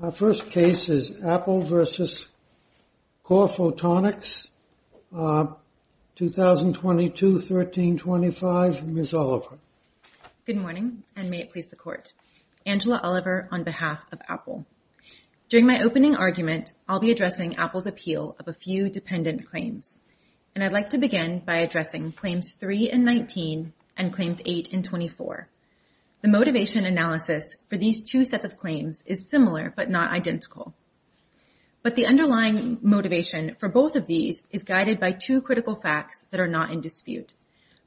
Our first case is Apple v. Corephotonics, 2022-1325. Ms. Oliver. Good morning, and may it please the Court. Angela Oliver on behalf of Apple. During my opening argument, I'll be addressing Apple's appeal of a few dependent claims, and I'd like to begin by addressing Claims 3 and 19 and Claims 8 and 24. The motivation analysis for these two sets of claims is similar, but not identical. But the underlying motivation for both of these is guided by two critical facts that are not in dispute.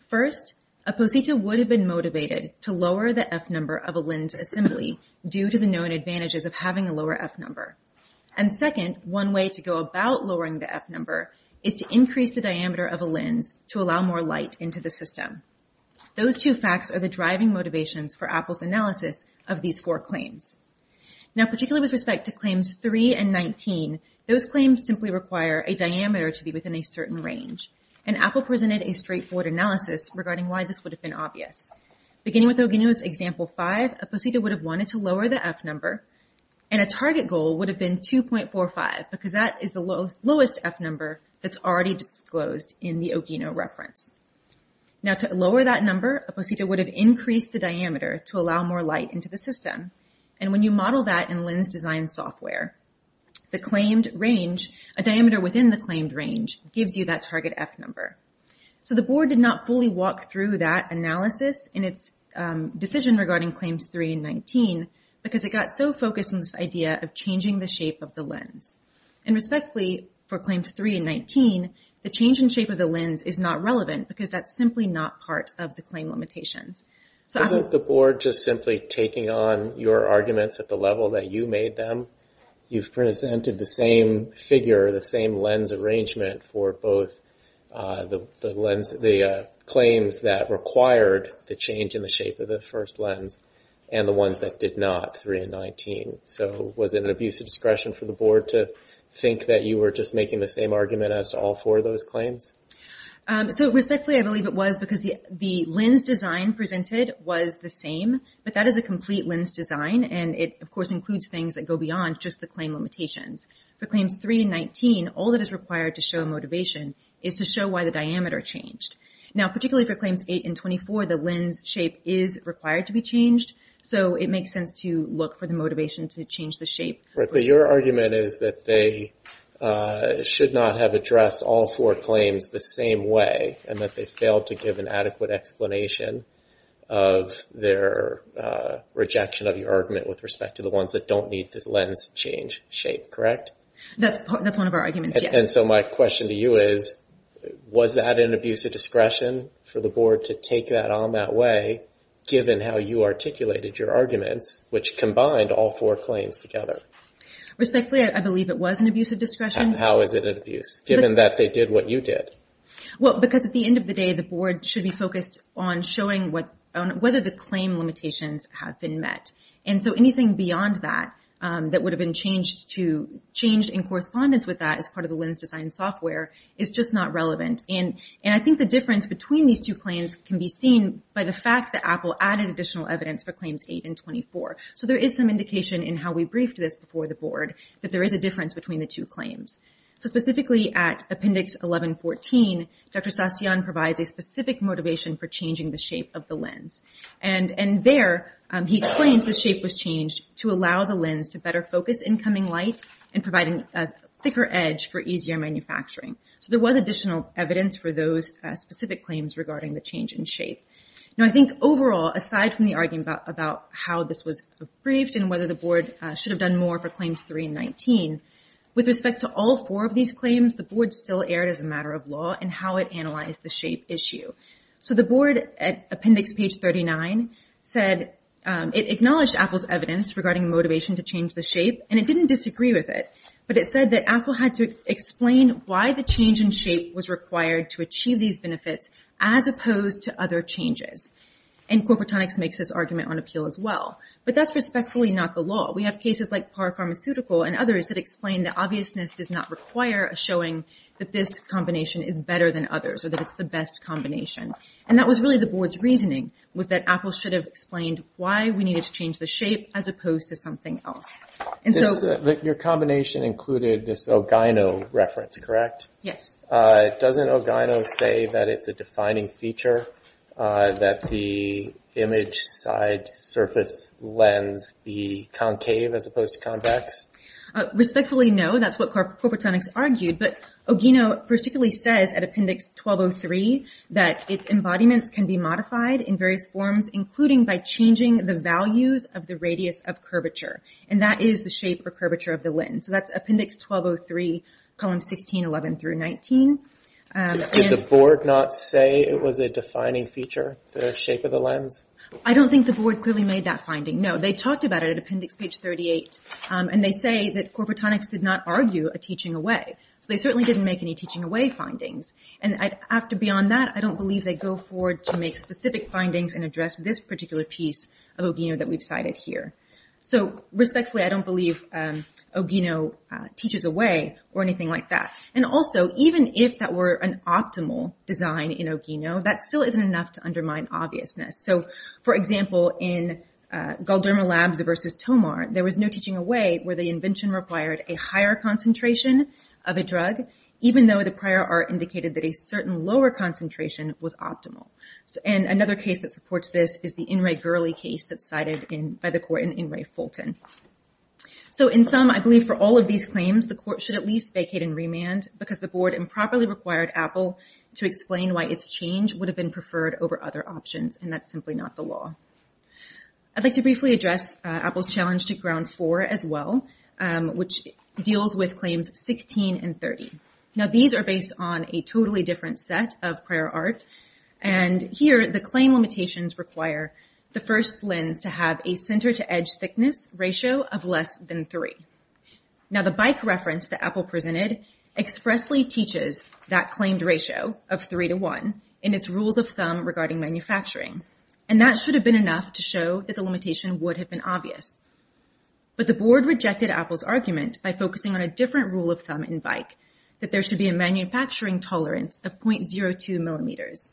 First, a poseta would have been motivated to lower the f-number of a lens assembly due to the known advantages of having a lower f-number. And second, one way to go about lowering the f-number is to increase the diameter of a lens to allow more light into the system. Those two facts are the driving motivations for Apple's analysis of these four claims. Now, particularly with respect to Claims 3 and 19, those claims simply require a diameter to be within a certain range, and Apple presented a straightforward analysis regarding why this would have been obvious. Beginning with Ogino's Example 5, a poseta would have wanted to lower the f-number, and a target goal would have been 2.45 because that is the lowest f-number that's already disclosed in the Ogino reference. Now, to lower that number, a poseta would have increased the diameter to allow more light into the system. And when you model that in lens design software, the claimed range, a diameter within the claimed range, gives you that target f-number. So the board did not fully walk through that analysis in its decision regarding Claims 3 and 19 because it got so focused on this idea of changing the shape of the lens. And respectfully, for Claims 3 and 19, the change in shape of the lens is not relevant because that's simply not part of the claim limitations. Isn't the board just simply taking on your arguments at the level that you made them? You've presented the same figure, the same lens arrangement for both the claims that required the change in the shape of the first lens and the ones that did not, 3 and 19. So was it an abuse of discretion for the board to think that you were just making the same argument as to all those claims? So respectfully, I believe it was because the lens design presented was the same, but that is a complete lens design. And it, of course, includes things that go beyond just the claim limitations. For Claims 3 and 19, all that is required to show motivation is to show why the diameter changed. Now, particularly for Claims 8 and 24, the lens shape is required to be changed. So it makes sense to look for the motivation to change the shape. But your argument is that they should not have addressed all four claims the same way and that they failed to give an adequate explanation of their rejection of your argument with respect to the ones that don't need the lens change shape, correct? That's one of our arguments. And so my question to you is, was that an abuse of discretion for the board to take that on that way, given how you articulated your arguments, which combined all four claims together? Respectfully, I believe it was an abuse of discretion. How is it an abuse, given that they did what you did? Well, because at the end of the day, the board should be focused on showing whether the claim limitations have been met. And so anything beyond that, that would have been changed in correspondence with that as part of the lens design software is just not relevant. And I think the difference between these two claims can be seen by the fact that Apple added additional evidence for Claims 8 and 24. So there is some indication in how we briefed this before the board that there is a difference between the two claims. So specifically at Appendix 1114, Dr. Sastian provides a specific motivation for changing the shape of the lens. And there he explains the shape was changed to allow the lens to better focus incoming light and providing a thicker edge for easier manufacturing. So there was additional evidence for those specific claims regarding the change in shape. Now, I think overall, aside from the argument about how this was briefed and whether the board should have done more for Claims 3 and 19, with respect to all four of these claims, the board still erred as a matter of law in how it analyzed the shape issue. So the board at Appendix Page 39 said it acknowledged Apple's evidence regarding motivation to change the shape, and it didn't disagree with it. But it said that Apple had to explain why the change in shape was required to And Corporatronics makes this argument on appeal as well. But that's respectfully not the law. We have cases like Par Pharmaceutical and others that explain the obviousness does not require showing that this combination is better than others or that it's the best combination. And that was really the board's reasoning was that Apple should have explained why we needed to change the shape as opposed to something else. And so- This, your combination included this Ogino reference, correct? Yes. Doesn't Ogino say that it's a defining feature, that the image side surface lens be concave as opposed to convex? Respectfully, no. That's what Corporatronics argued. But Ogino particularly says at Appendix 1203 that its embodiments can be modified in various forms, including by changing the values of the radius of curvature. And that is the shape or curvature of the lens. So that's Appendix 1203, columns 16, 11 through 19. Did the board not say it was a defining feature, the shape of the lens? I don't think the board clearly made that finding. No, they talked about it at Appendix page 38. And they say that Corporatronics did not argue a teaching away. So they certainly didn't make any teaching away findings. And after beyond that, I don't believe they go forward to make specific findings and address this particular piece of Ogino that we've cited here. So respectfully, I don't believe Ogino teaches away or anything like that. And also, even if that were an optimal design in Ogino, that still isn't enough to undermine obviousness. So for example, in Galderma Labs versus Tomar, there was no teaching away where the invention required a higher concentration of a drug, even though the prior art indicated that a certain lower concentration was optimal. And another case that supports this is the In Re Gurley case that's cited by the court in Ray Fulton. So in sum, I believe for all of these claims, the court should at least vacate and remand because the board improperly required Apple to explain why its change would have been preferred over other options. And that's simply not the law. I'd like to briefly address Apple's challenge to ground four as well, which deals with claims 16 and 30. Now, these are based on a totally different set of prior art. And here, the claim limitations require the first lens to have a center to edge thickness ratio of less than three. Now, the bike reference that Apple presented expressly teaches that claimed ratio of three to one in its rules of thumb regarding manufacturing. And that should have been enough to show that the limitation would have been obvious. But the board rejected Apple's argument by focusing on a different rule of thumb in bike, that there should be a manufacturing tolerance of 0.02 millimeters.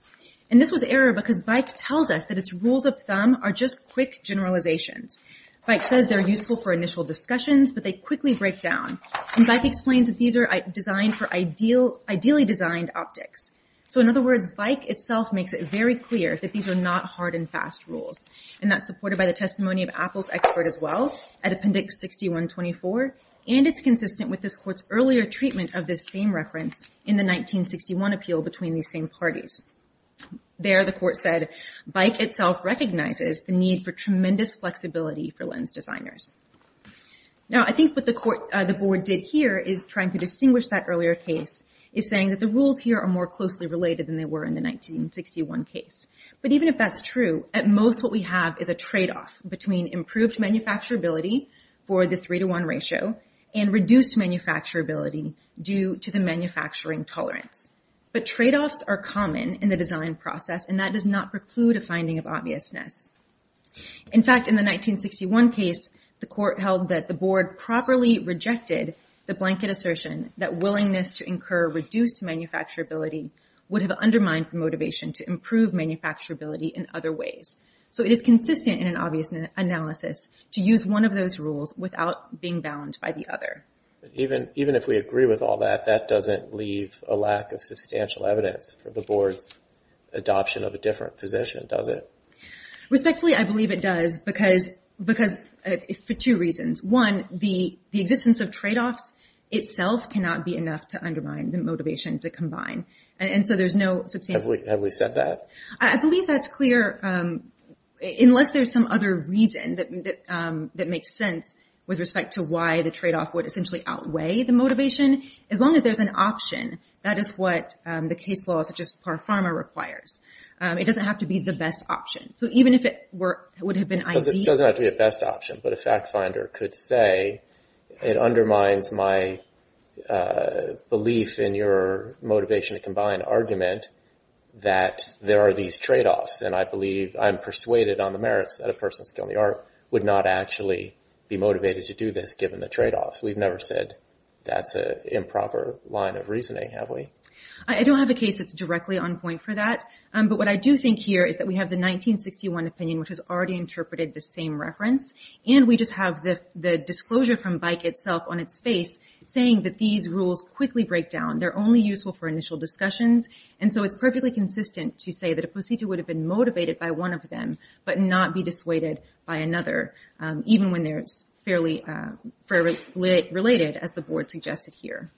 And this was error because bike tells us that its rules of thumb are just quick generalizations. Bike says they're useful for initial discussions, but they quickly break down. And bike explains that these are designed for ideally designed optics. So in other words, bike itself makes it very clear that these are not hard and fast rules. And that's supported by the testimony of Apple's expert as well at appendix 6124. And it's consistent with this earlier treatment of this same reference in the 1961 appeal between these same parties. There, the court said, bike itself recognizes the need for tremendous flexibility for lens designers. Now, I think what the court, the board did here is trying to distinguish that earlier case is saying that the rules here are more closely related than they were in the 1961 case. But even if that's true, at most what we have is a trade-off between improved manufacturability for the three-to-one ratio and reduced manufacturability due to the manufacturing tolerance. But trade-offs are common in the design process, and that does not preclude a finding of obviousness. In fact, in the 1961 case, the court held that the board properly rejected the blanket assertion that willingness to incur reduced manufacturability would have undermined motivation to improve manufacturability in other ways. So it is consistent in an obvious analysis to use one of those rules without being bound by the other. But even if we agree with all that, that doesn't leave a lack of substantial evidence for the board's adoption of a different position, does it? Respectfully, I believe it does because, for two reasons. One, the existence of trade-offs itself cannot be enough to undermine the motivation to combine. And so there's no substantial... Have we said that? I believe that's clear, unless there's some other reason that makes sense with respect to why the trade-off would essentially outweigh the motivation. As long as there's an option, that is what the case law, such as PARFARMA, requires. It doesn't have to be the best option. So even if it would have been... Because it doesn't have to be a best option, but a fact finder could say, it undermines my belief in your motivation to combine argument that there are these trade-offs. And I believe I'm persuaded on the merits that a person's skill in the art would not actually be motivated to do this given the trade-offs. We've never said that's an improper line of reasoning, have we? I don't have a case that's directly on point for that. But what I do think here is that we have the 1961 opinion, which has already interpreted the same reference. And we just have the disclosure from BIKE itself on its face, saying that these rules quickly break down. They're only useful for initial discussions. And so it's perfectly consistent to say that a procedure would have been motivated by one of them, but not be dissuaded by another, even when they're fairly related, as the board suggested here.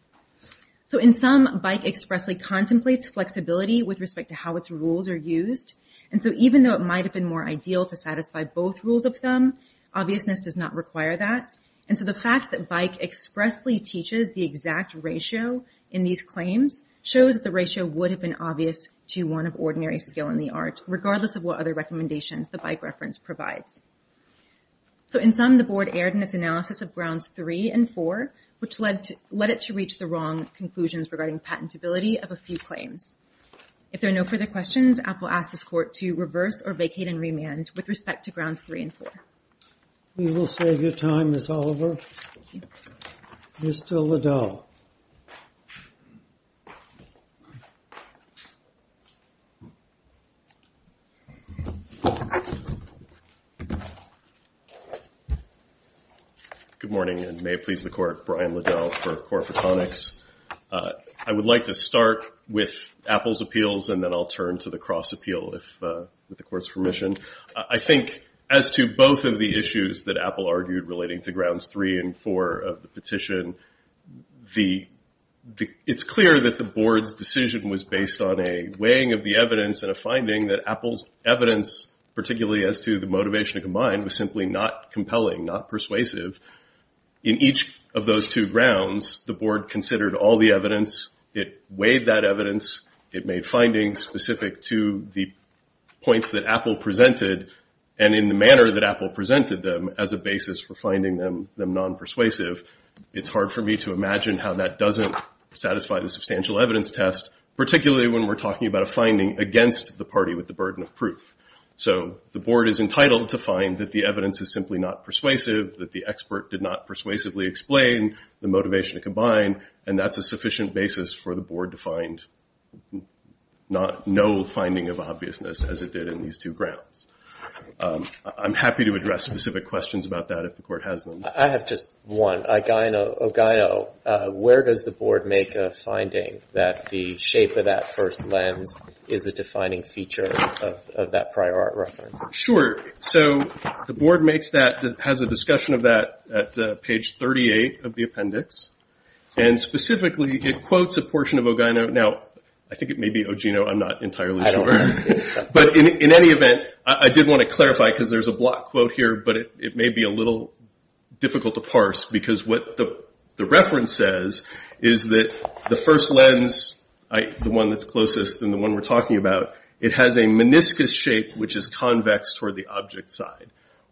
So in sum, BIKE expressly contemplates flexibility with respect to how its rules are used. And so even though it might have been more ideal to satisfy both rules of thumb, obviousness does not require that. And so the fact that BIKE expressly teaches the exact ratio in these claims shows that the ratio would have been obvious to one of ordinary skill in the art, regardless of what other recommendations the BIKE reference provides. So in sum, the board erred in its analysis of grounds three and four, which led it to reach the wrong conclusions regarding patentability of a few claims. If there are no further questions, I will ask this court to reverse or vacate and remand with respect to grounds three and four. We will save your time, Ms. Oliver. Mr. Liddell. Good morning, and may it please the court, Brian Liddell for Corporatronics. I would like to start with Apple's appeals, and then I'll turn to the Cross appeal, with the court's permission. I think as to both of the issues that Apple argued relating to grounds three and four of the petition, it's clear that the board's decision was based on a weighing of the evidence and a finding that Apple's evidence, particularly as to the motivation combined, was simply not compelling, not persuasive. In each of those two grounds, the board considered all the evidence. It weighed that evidence. It made findings specific to the points that Apple presented, and in the manner that Apple presented them, as a basis for finding them non-persuasive. It's hard for me to imagine how that doesn't satisfy the substantial evidence test, particularly when we're talking about a finding against the party with the burden of proof. So the board is entitled to find that the evidence is simply not persuasive, that the expert did not persuasively explain the motivation combined, and that's a obviousness as it did in these two grounds. I'm happy to address specific questions about that if the court has them. I have just one. Ogino, where does the board make a finding that the shape of that first lens is a defining feature of that prior art reference? Sure. So the board has a discussion of that at page 38 of the appendix, and specifically it quotes a portion of Ogino. Now, I think it may be Ogino, I'm not entirely sure. But in any event, I did want to clarify, because there's a block quote here, but it may be a little difficult to parse, because what the reference says is that the first lens, the one that's closest and the one we're talking about, it has a meniscus shape which is convex toward the object side.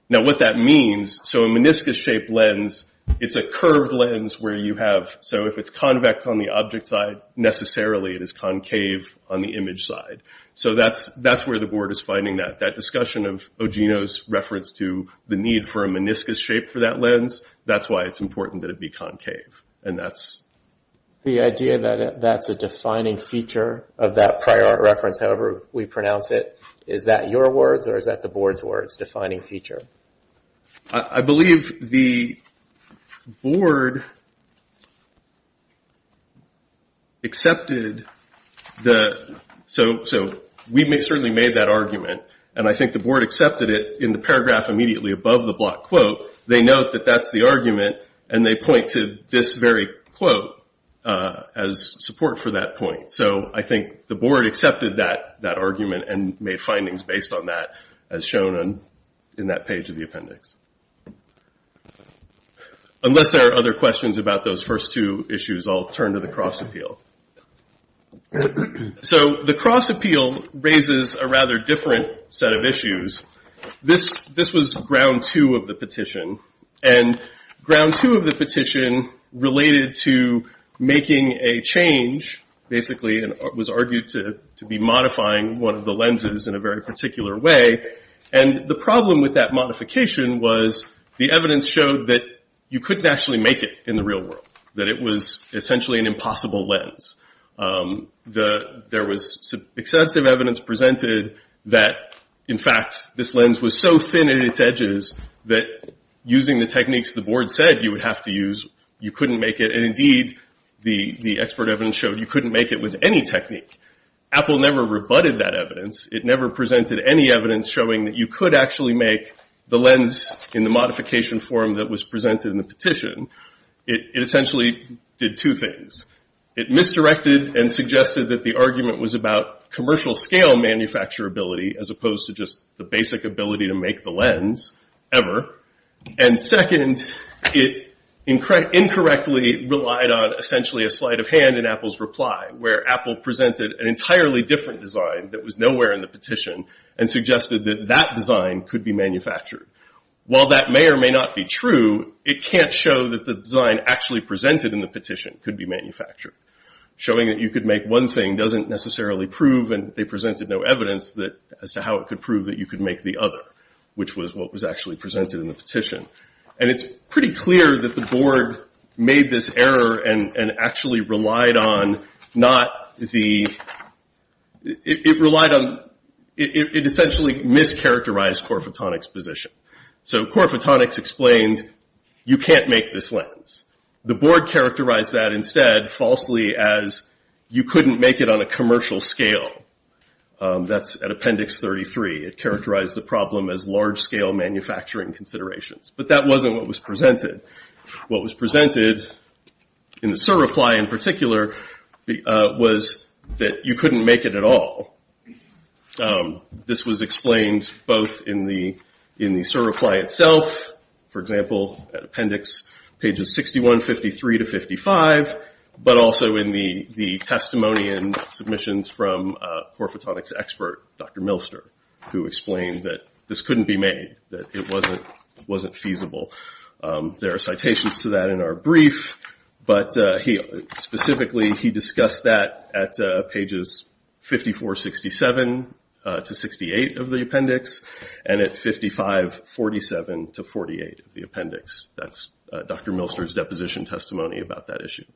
Now what that means, so a meniscus shaped lens, it's a curved lens where you have, so if it's convex on the object side, necessarily it is concave on the image side. So that's where the board is finding that. That discussion of Ogino's reference to the need for a meniscus shape for that lens, that's why it's important that it be concave. And that's... The idea that that's a defining feature of that prior art reference, however we pronounce it, is that your words or is that the board's words, defining feature? I believe the board accepted the... So we certainly made that argument, and I think the board accepted it in the paragraph immediately above the block quote. They note that that's the argument, and they point to this very quote as support for that point. So I think the board accepted that argument and made findings based on that as shown in that page of the appendix. Unless there are other questions about those first two issues, I'll turn to the cross appeal. So the cross appeal raises a rather different set of issues. This was ground two of the petition, and ground two of the petition related to making a change, basically, and was argued to be modifying one of the lenses in a very particular way. And the problem with that modification was the evidence showed that you couldn't actually make it in the real world, that it was essentially an impossible lens. There was extensive evidence presented that, in fact, this lens was so thin in its edges that using the techniques the board said you would have to use, you couldn't make it. And indeed, the expert evidence showed you couldn't make it with any technique. Apple never rebutted that evidence. It never presented any evidence showing that you could actually make the lens in the modification form that was presented in the petition. It essentially did two things. It misdirected and suggested that the argument was about commercial scale manufacturability as opposed to just the basic ability to make the lens ever. And second, it incorrectly relied on essentially a sleight of hand in Apple's reply, where Apple presented an entirely different design that was nowhere in the petition and suggested that that design could be manufactured. While that may or may not be true, it can't show that the design actually presented in the petition could be manufactured. Showing that you could make one thing doesn't necessarily prove, and they presented no proof that you could make the other, which was what was actually presented in the petition. And it's pretty clear that the board made this error and actually relied on not the, it relied on, it essentially mischaracterized Core Photonics position. So Core Photonics explained you can't make this lens. The board characterized that instead falsely as you couldn't make it on commercial scale. That's at Appendix 33. It characterized the problem as large-scale manufacturing considerations. But that wasn't what was presented. What was presented in the SIR reply in particular was that you couldn't make it at all. This was explained both in the SIR reply itself, for example, at Appendix pages 61, 53 to 55, but also in the testimony and submissions from Core Photonics expert Dr. Milster, who explained that this couldn't be made, that it wasn't feasible. There are citations to that in our brief, but specifically he discussed that at pages 54, 67 to 68 of the appendix, and at 55, 47 to 48 of the appendix. That's Dr. Milster's deposition testimony about that issue.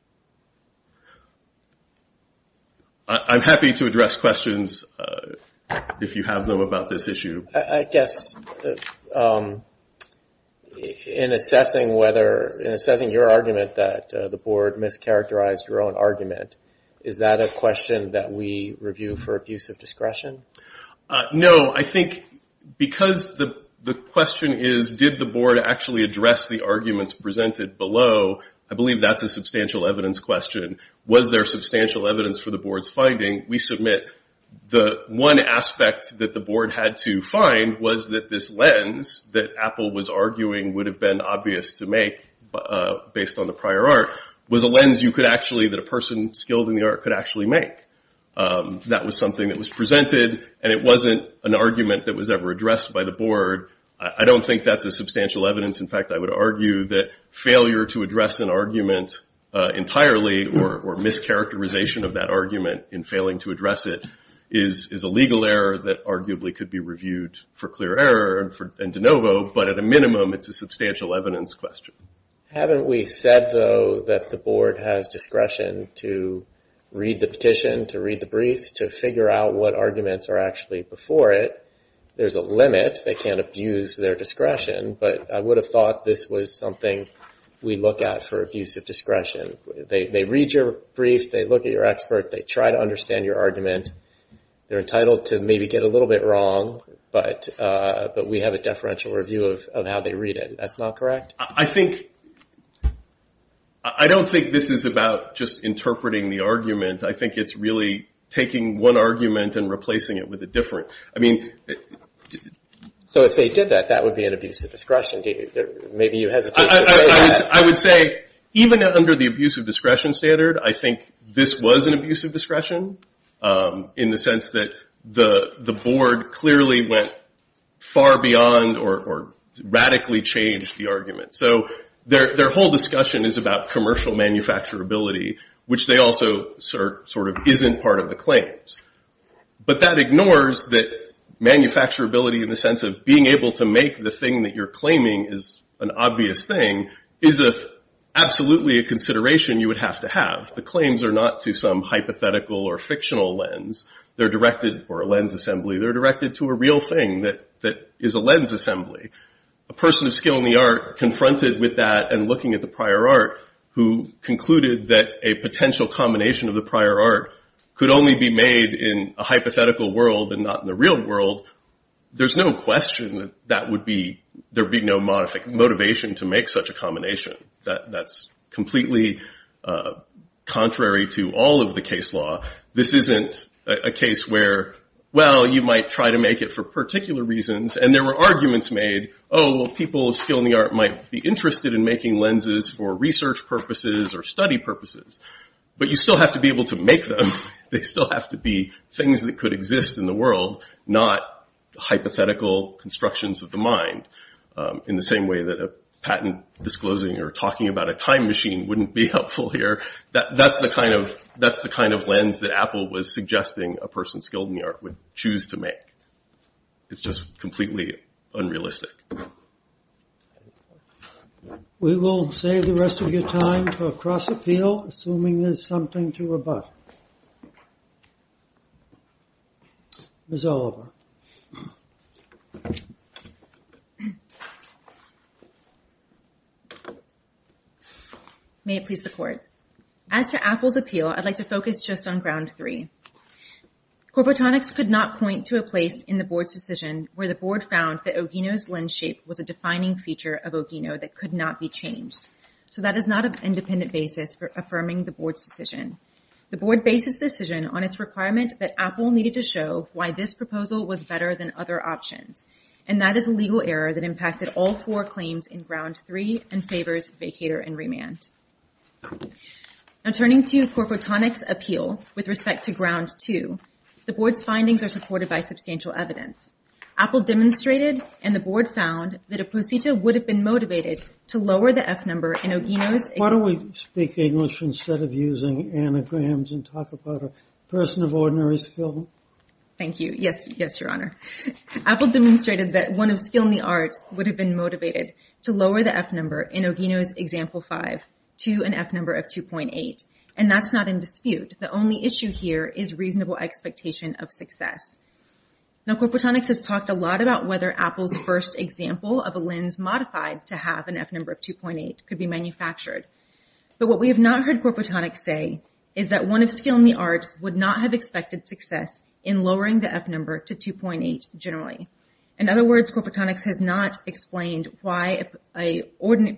I'm happy to address questions if you have them about this issue. I guess in assessing whether, in assessing your argument that the board mischaracterized your own argument, is that a question that we review for abuse of discretion? No. I think because the question is did the board actually address the arguments presented below, I believe that's a substantial evidence question. Was there substantial evidence for the board's finding? We submit the one aspect that the board had to find was that this lens that Apple was arguing would have been obvious to make based on the prior art was a lens you could actually, that a person skilled in the art could actually make. That was something that was presented, and it wasn't an argument that was ever addressed by the board. I don't think that's a substantial evidence. In fact, I would argue that failure to address an argument entirely or mischaracterization of that argument in failing to address it is a legal error that arguably could be reviewed for clear error and de novo, but at a minimum, it's a substantial evidence question. Haven't we said, though, that the board has discretion to read the petition, to read the briefs, to figure out what arguments are actually before it? There's a limit. They can't abuse their discretion. I would have thought this was something we look at for abuse of discretion. They read your brief. They look at your expert. They try to understand your argument. They're entitled to maybe get a little bit wrong, but we have a deferential review of how they read it. That's not correct? I don't think this is about just interpreting the argument. I think it's really taking one argument and replacing it with a different. If they did that, that would be an abuse of discretion. Maybe you hesitate to say that. I would say even under the abuse of discretion standard, I think this was an abuse of discretion in the sense that the board clearly went far beyond or radically changed the argument. Their whole discussion is about commercial manufacturability, which they also isn't part of the claims, but that ignores that manufacturability in the sense of being able to make the thing that you're claiming is an obvious thing is absolutely a consideration you would have to have. The claims are not to some hypothetical or fictional lens. They're directed for a lens assembly. They're directed to a real thing that is a lens assembly. A person of skill in the art confronted with that and looking at the prior art who concluded that a potential combination of the prior art could only be made in a hypothetical world and not in the real world, there's no question that there would be no motivation to make such a combination. That's completely contrary to all of the case law. This isn't a case where, well, you might try to make it for particular reasons, and there were arguments made, oh, people of skill in the art might be interested in making lenses for research purposes or study purposes, but you still have to be able to make them. They still have to be things that could exist in the world, not hypothetical constructions of the mind in the same way that a patent disclosing or talking about a time machine wouldn't be helpful here. That's the kind of lens that Apple was suggesting a person skilled in the art would choose to make. It's just completely unrealistic. We will save the rest of your time for a cross appeal, assuming there's something to rebut. Ms. Oliver. May it please the court. As to Apple's appeal, I'd like to focus just on ground three. Corporatronics could not point to a place in the board's decision where the board found that Ogino's lens shape was a defining feature of Ogino that could not be changed. So that is not an independent basis for affirming the board's decision. The board bases this decision on its requirement that Apple needed to show why this proposal was better than other options, and that is a legal error that impacted all four claims in ground three and favors vacator and remand. Now turning to corporatronics appeal with respect to ground two, the board's findings are supported by substantial evidence. Apple demonstrated and the board found that a procedure would have been motivated to lower the F number in Ogino's. Why don't we speak English instead of using anagrams and talk about a person of ordinary skill? Thank you. Yes, yes, your honor. Apple demonstrated that one of skill in the art would have been motivated to lower the F number in to an F number of 2.8, and that's not in dispute. The only issue here is reasonable expectation of success. Now corporatronics has talked a lot about whether Apple's first example of a lens modified to have an F number of 2.8 could be manufactured, but what we have not heard corporatronics say is that one of skill in the art would not have expected success in lowering the F number to 2.8 generally. In other words, corporatronics has not explained why a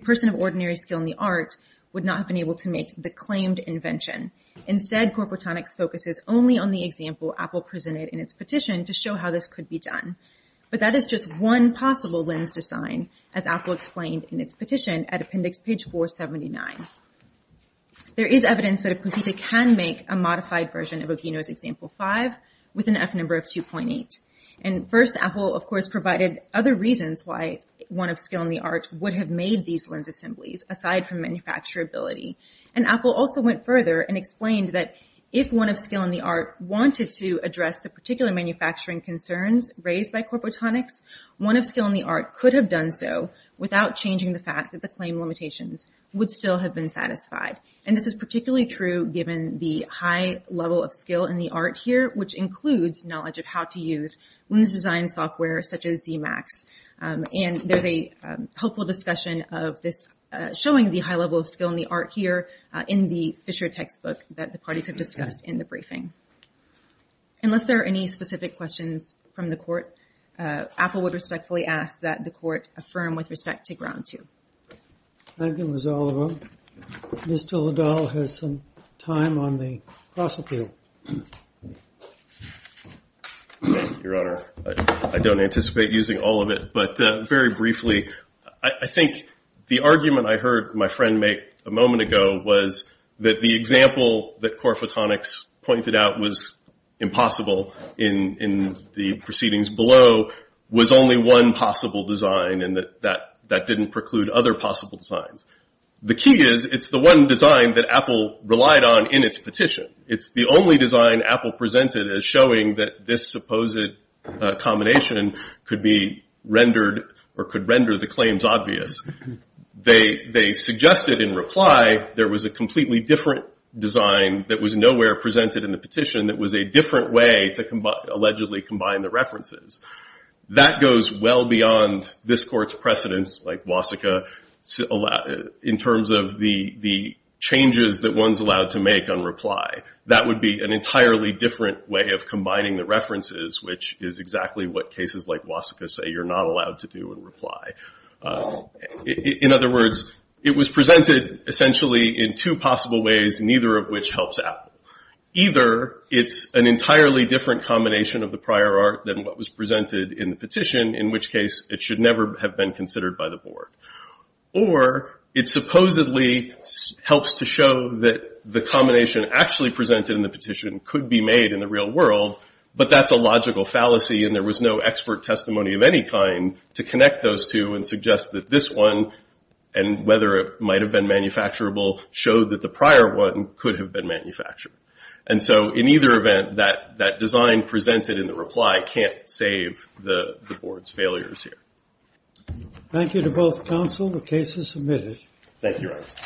person of would not have been able to make the claimed invention. Instead, corporatronics focuses only on the example Apple presented in its petition to show how this could be done, but that is just one possible lens design as Apple explained in its petition at appendix page 479. There is evidence that a procedure can make a modified version of Ogino's example five with an F number of 2.8, and first Apple of course provided other reasons why one of skill in the art would have made these assemblies aside from manufacturability, and Apple also went further and explained that if one of skill in the art wanted to address the particular manufacturing concerns raised by corporatronics, one of skill in the art could have done so without changing the fact that the claim limitations would still have been satisfied, and this is particularly true given the high level of skill in the art here, which includes knowledge of how to use lens design software such as ZMAX, and there's a helpful discussion of this showing the high level of skill in the art here in the Fisher textbook that the parties have discussed in the briefing. Unless there are any specific questions from the court, Apple would respectfully ask that the court affirm with respect to ground two. Thank you, Ms. Oliver. Mr. Liddell has some time on the cross appeal. Your Honor, I don't anticipate using all of it, but very briefly, I think the argument I heard my friend make a moment ago was that the example that corporatronics pointed out was impossible in the proceedings below was only one possible design and that didn't preclude other possible designs. The key is it's the one design that Apple relied on in its petition. It's the only design Apple presented as showing that this supposed combination could be rendered or could render the claims obvious. They suggested in reply there was a completely different design that was nowhere presented in the petition that was a different way to allegedly combine the references. That goes well beyond this court's precedence like Wasika in terms of the changes that one's allowed to make on reply. That would be an entirely different way of combining the references, which is exactly what cases like Wasika say you're not allowed to do in reply. In other words, it was presented essentially in two possible ways, neither of which helps Apple. Either it's an entirely different combination of the prior art than what was presented in the petition, in which case it should never have been considered by the board. Or it supposedly helps to show that the combination actually presented in the petition could be made in the real world, but that's a logical fallacy and there was no expert testimony of any kind to connect those two and suggest that this one, and whether it might have been manufacturable, showed that the prior one could have been manufactured. And so in either event, that design presented in the reply can't save the board's failures here. Thank you to both counsel. The case is submitted. Thank you.